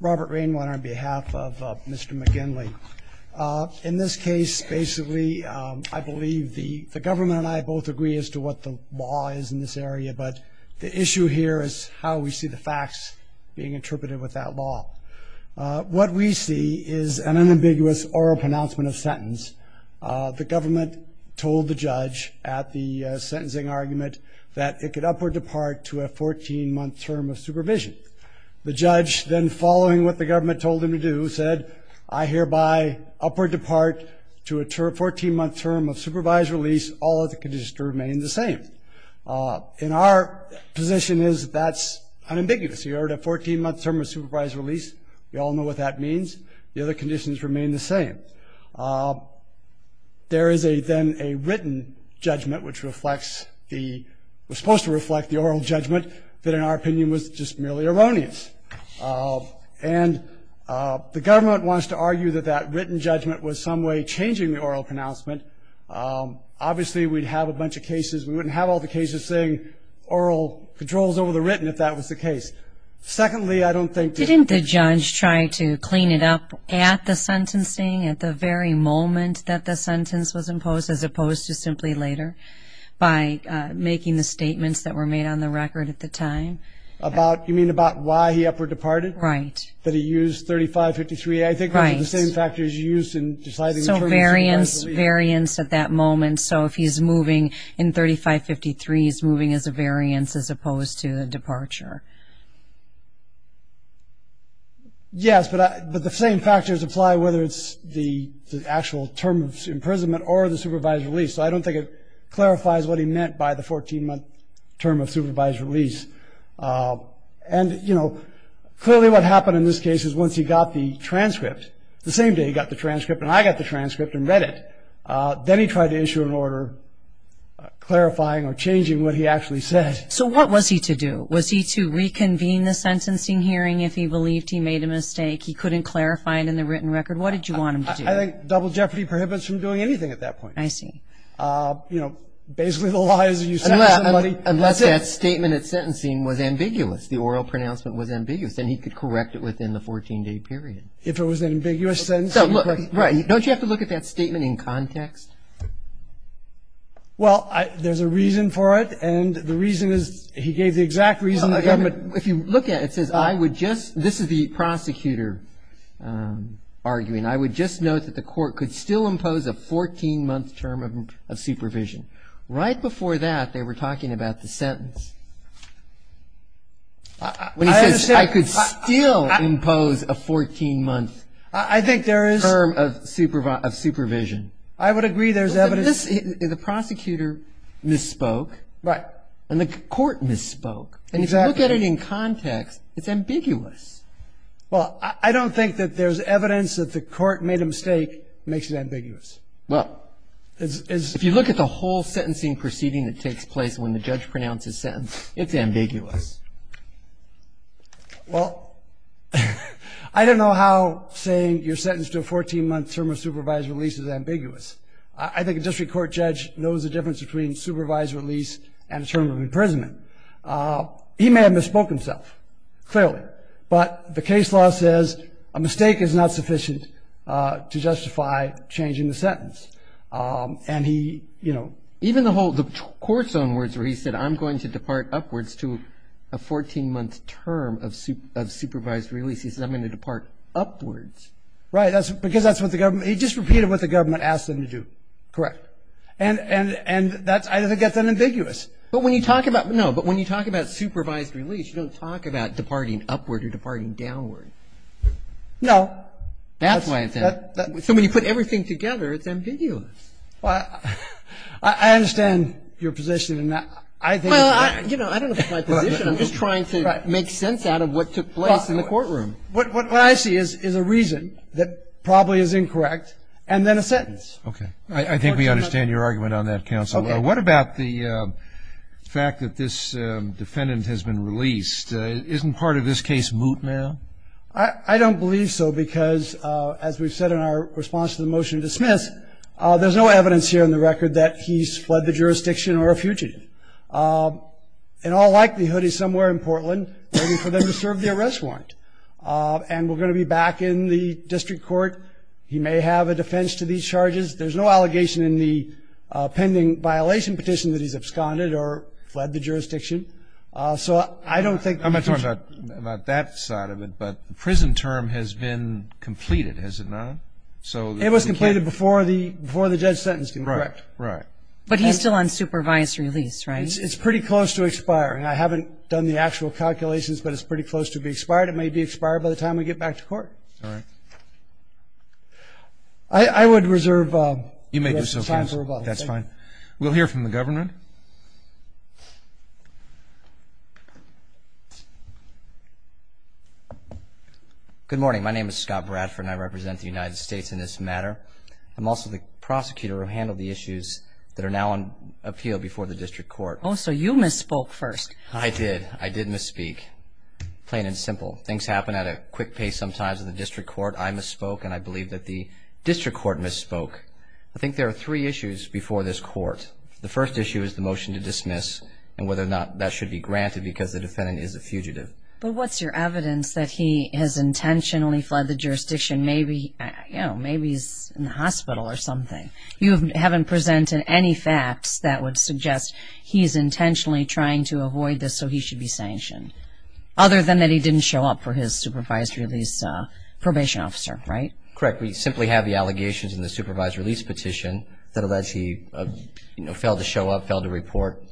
Robert Rainwater on behalf of Mr. McGinley. In this case basically I believe the the government and I both agree as to what the law is in this area but the issue here is how we see the facts being interpreted with that law. What we see is an unambiguous oral pronouncement of sentence. The government told the judge at the sentencing argument that it could upward depart to a 14-month term of supervised release. Then following what the government told him to do said I hereby upward depart to a 14-month term of supervised release all of the conditions to remain the same. In our position is that's unambiguous. You heard a 14-month term of supervised release. We all know what that means. The other conditions remain the same. There is a then a written judgment which reflects the was supposed to reflect the oral judgment that in our opinion was just and the government wants to argue that that written judgment was some way changing the oral pronouncement. Obviously we'd have a bunch of cases we wouldn't have all the cases saying oral controls over the written if that was the case. Secondly I don't think... Didn't the judge try to clean it up at the sentencing at the very moment that the sentence was imposed as opposed to simply later by making the statements that were made on the record at the time? You mean about why he upward departed? Right. That he used 3553 I think the same factors used in deciding... So variance at that moment so if he's moving in 3553 is moving as a variance as opposed to the departure. Yes but the same factors apply whether it's the actual term of imprisonment or the supervised release. So I don't think it clarifies what he meant by the 14-month term of supervised release. And you know clearly what happened in this case is once he got the transcript, the same day he got the transcript and I got the transcript and read it, then he tried to issue an order clarifying or changing what he actually said. So what was he to do? Was he to reconvene the sentencing hearing if he believed he made a mistake? He couldn't clarify it in the written record? What did you want him to do? I think double jeopardy prohibits from doing anything at that point. I see. You know basically the law is that you sentence somebody... Unless that statement at sentencing was ambiguous. The oral pronouncement was ambiguous. Then he could correct it within the 14-day period. If it was an ambiguous sentence? Right. Don't you have to look at that statement in context? Well there's a reason for it and the reason is he gave the exact reason the government... If you look at it says I would just, this is the prosecutor arguing, I would just note that the court could still impose a 14-month term of supervision. I would agree there's evidence... The prosecutor misspoke. Right. And the court misspoke. Exactly. And if you look at it in context, it's ambiguous. Well I don't think that there's evidence that the court made a mistake makes it ambiguous. Well, if you look at the whole sentencing proceeding and the judge pronounces sentence, it's ambiguous. Well, I don't know how saying you're sentenced to a 14-month term of supervised release is ambiguous. I think a district court judge knows the difference between supervised release and a term of imprisonment. He may have misspoke himself, clearly, but the case law says a mistake is not sufficient to justify changing the sentence. And he, you know, even the court's own words where he said I'm going to depart upwards to a 14-month term of supervised release, he says I'm going to depart upwards. Right, because that's what the government, he just repeated what the government asked him to do. Correct. And I think that's ambiguous. But when you talk about, no, but when you talk about supervised release, you don't talk about departing upward or departing downward. No. That's why I'm saying that. So when you put everything together, it's ambiguous. Well, I understand your position, and I think it's fair. Well, you know, I don't know if it's my position. I'm just trying to make sense out of what took place in the courtroom. What I see is a reason that probably is incorrect, and then a sentence. Okay. I think we understand your argument on that, counsel. Okay. What about the fact that this defendant has been released? Isn't part of this case moot, ma'am? I don't believe so, because as we've said in our response to the motion to dismiss, there's no evidence here in the record that he's fled the jurisdiction or a fugitive. In all likelihood, he's somewhere in Portland waiting for them to serve the arrest warrant. And we're going to be back in the district court. He may have a defense to these charges. There's no allegation in the pending violation petition that he's absconded or fled the jurisdiction. So I don't think that he's a fugitive. I'm not talking about that side of it, but the prison term has been completed, has it not? It was completed before the judge sentenced him, correct? Right. Right. But he's still on supervisory lease, right? It's pretty close to expiring. I haven't done the actual calculations, but it's pretty close to be expired. It may be expired by the time we get back to court. All right. I would reserve time for rebuttal. That's fine. We'll hear from the government. Good morning. My name is Scott Bradford, and I represent the United States in this matter. I'm also the prosecutor who handled the issues that are now on appeal before the district court. Oh, so you misspoke first. I did. I did misspeak. Plain and simple. Things happen at a quick pace sometimes in the district court. I misspoke, and I believe that the district court misspoke. I think there are three issues before this court. The first issue is the motion to dismiss and whether or not that should be granted because the defendant is a fugitive. But what's your evidence that he has intentionally fled the jurisdiction? Maybe he's in the hospital or something. You haven't presented any facts that would suggest he's intentionally trying to avoid this so he should be sanctioned, other than that he didn't show up for his supervised release probation officer, right? Correct. We simply have the allegations in the supervised release petition that alleged he failed to show up, failed to report.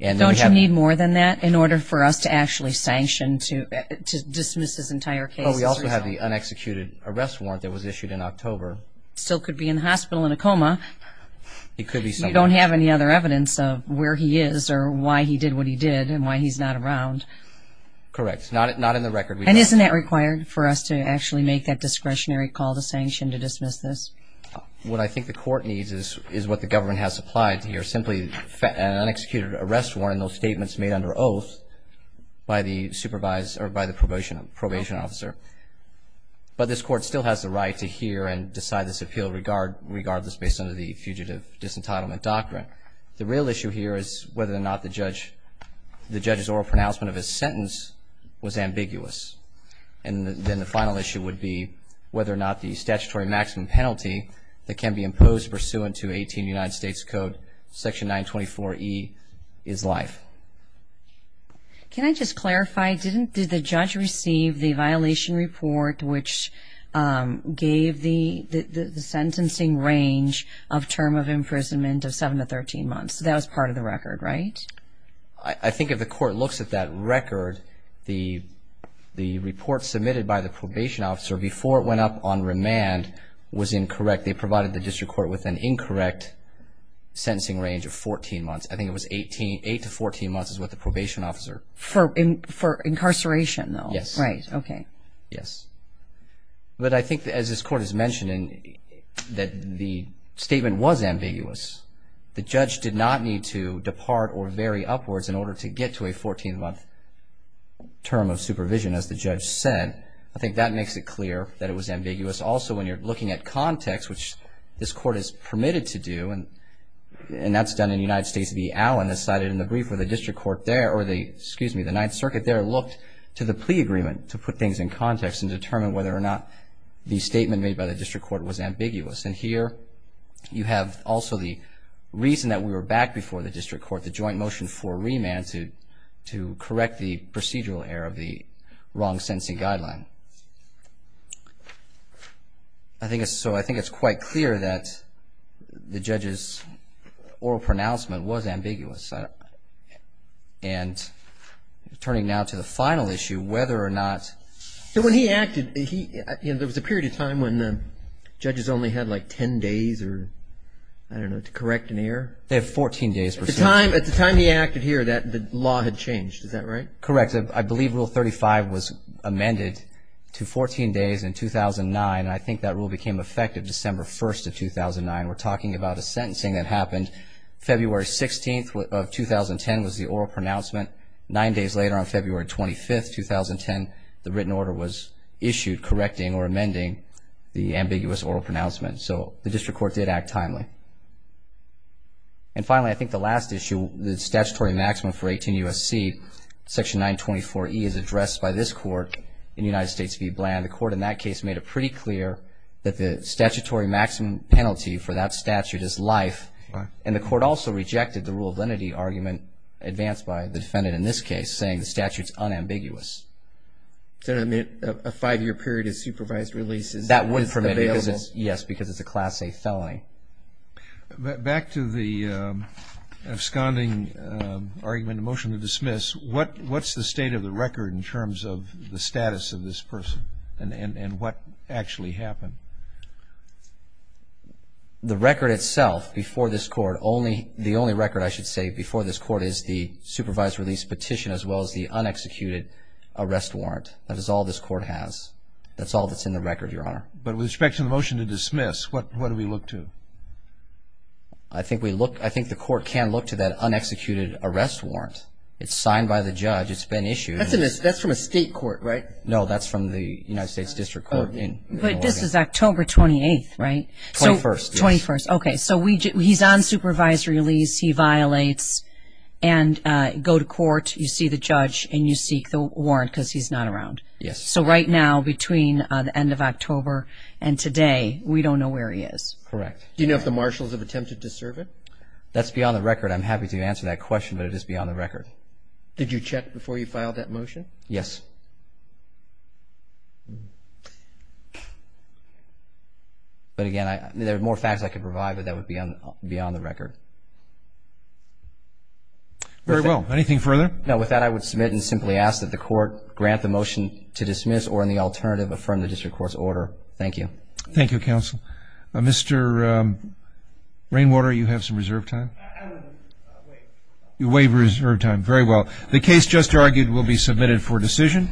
Don't you need more than that in order for us to actually sanction to dismiss his entire case? Well, we also have the unexecuted arrest warrant that was issued in October. Still could be in the hospital in a coma. It could be somewhere. You don't have any other evidence of where he is or why he did what he did and why he's not around. Correct. Not in the record. And isn't that required for us to actually make that discretionary call to sanction to dismiss this? What I think the court needs is what the government has supplied here, simply an unexecuted arrest warrant and those statements made under oath by the supervisor or by the probation officer. But this court still has the right to hear and decide this appeal regardless based on the fugitive disentitlement doctrine. The real issue here is whether or not the judge's oral pronouncement of his sentence was ambiguous. And then the final issue would be whether or not the statutory maximum penalty that can be imposed pursuant to 18 United States Code Section 924E is life. Can I just clarify, did the judge receive the violation report which gave the sentencing range of term of imprisonment of 7 to 13 months? That was part of the record, right? I think if the court looks at that record, the report submitted by the probation officer before it went up on remand was incorrect. They provided the district court with an incorrect sentencing range of 14 months. I think it was 8 to 14 months is what the probation officer... For incarceration though? Yes. Right, okay. Yes. But I think as this court is mentioning that the statement was ambiguous. The judge did not need to depart or vary upwards in order to get to a 14-month term of supervision as the judge said. I think that makes it clear that it was ambiguous. Also when you're looking at context which this court is permitted to do and that's done in United States v. Allen as cited in the brief where the district court there or the, excuse me, the Ninth Circuit there looked to the plea agreement to put things in context and determine whether or not the statement made by the district court was ambiguous. And here you have also the reason that we were back before the district court, the joint motion for remand to correct the procedural error of the wrong sentencing guideline. I think it's quite clear that the judge's oral pronouncement was ambiguous. And turning now to the final issue, whether or not... He acted, there was a period of time when judges only had like 10 days to correct an error. They have 14 days. At the time he acted here the law had changed, is that right? Correct. I believe Rule 35 was amended to 14 days in 2009 and I think that rule became effective December 1st of 2009. We're talking about a sentencing that happened February 16th of 2010 was the issue correcting or amending the ambiguous oral pronouncement. So the district court did act timely. And finally, I think the last issue, the statutory maximum for 18 U.S.C. Section 924E is addressed by this court in United States v. Bland. The court in that case made it pretty clear that the statutory maximum penalty for that statute is life and the court also rejected the rule of lenity argument advanced by the defendant in this case saying the statute's unambiguous. A five-year period of supervised release is available? That wouldn't permit it, yes, because it's a Class A felony. Back to the absconding argument, the motion to dismiss, what's the state of the record in terms of the status of this person and what actually happened? The record itself before this court, the only record I should say before this court is the supervised release petition as well as the unexecuted arrest warrant. That is all this court has. That's all that's in the record, Your Honor. But with respect to the motion to dismiss, what do we look to? I think the court can look to that unexecuted arrest warrant. It's signed by the judge. It's been issued. That's from a state court, right? No, that's from the United States District Court in Oregon. But this is October 28th, right? 21st, yes. Okay, so he's on supervised release. He violates and go to court. You see the judge and you seek the warrant because he's not around. Yes. So right now between the end of October and today, we don't know where he is. Correct. Do you know if the marshals have attempted to serve him? That's beyond the record. I'm happy to answer that question, but it is beyond the record. Did you check before you filed that motion? Yes. But again, there are more facts I could provide, but that would be beyond the record. Very well. Anything further? No. With that, I would submit and simply ask that the court grant the motion to dismiss or in the alternative, affirm the district court's order. Thank you. Thank you, counsel. Mr. Rainwater, you have some reserve time? You waive reserve time. Very well. The case just argued will be submitted for decision.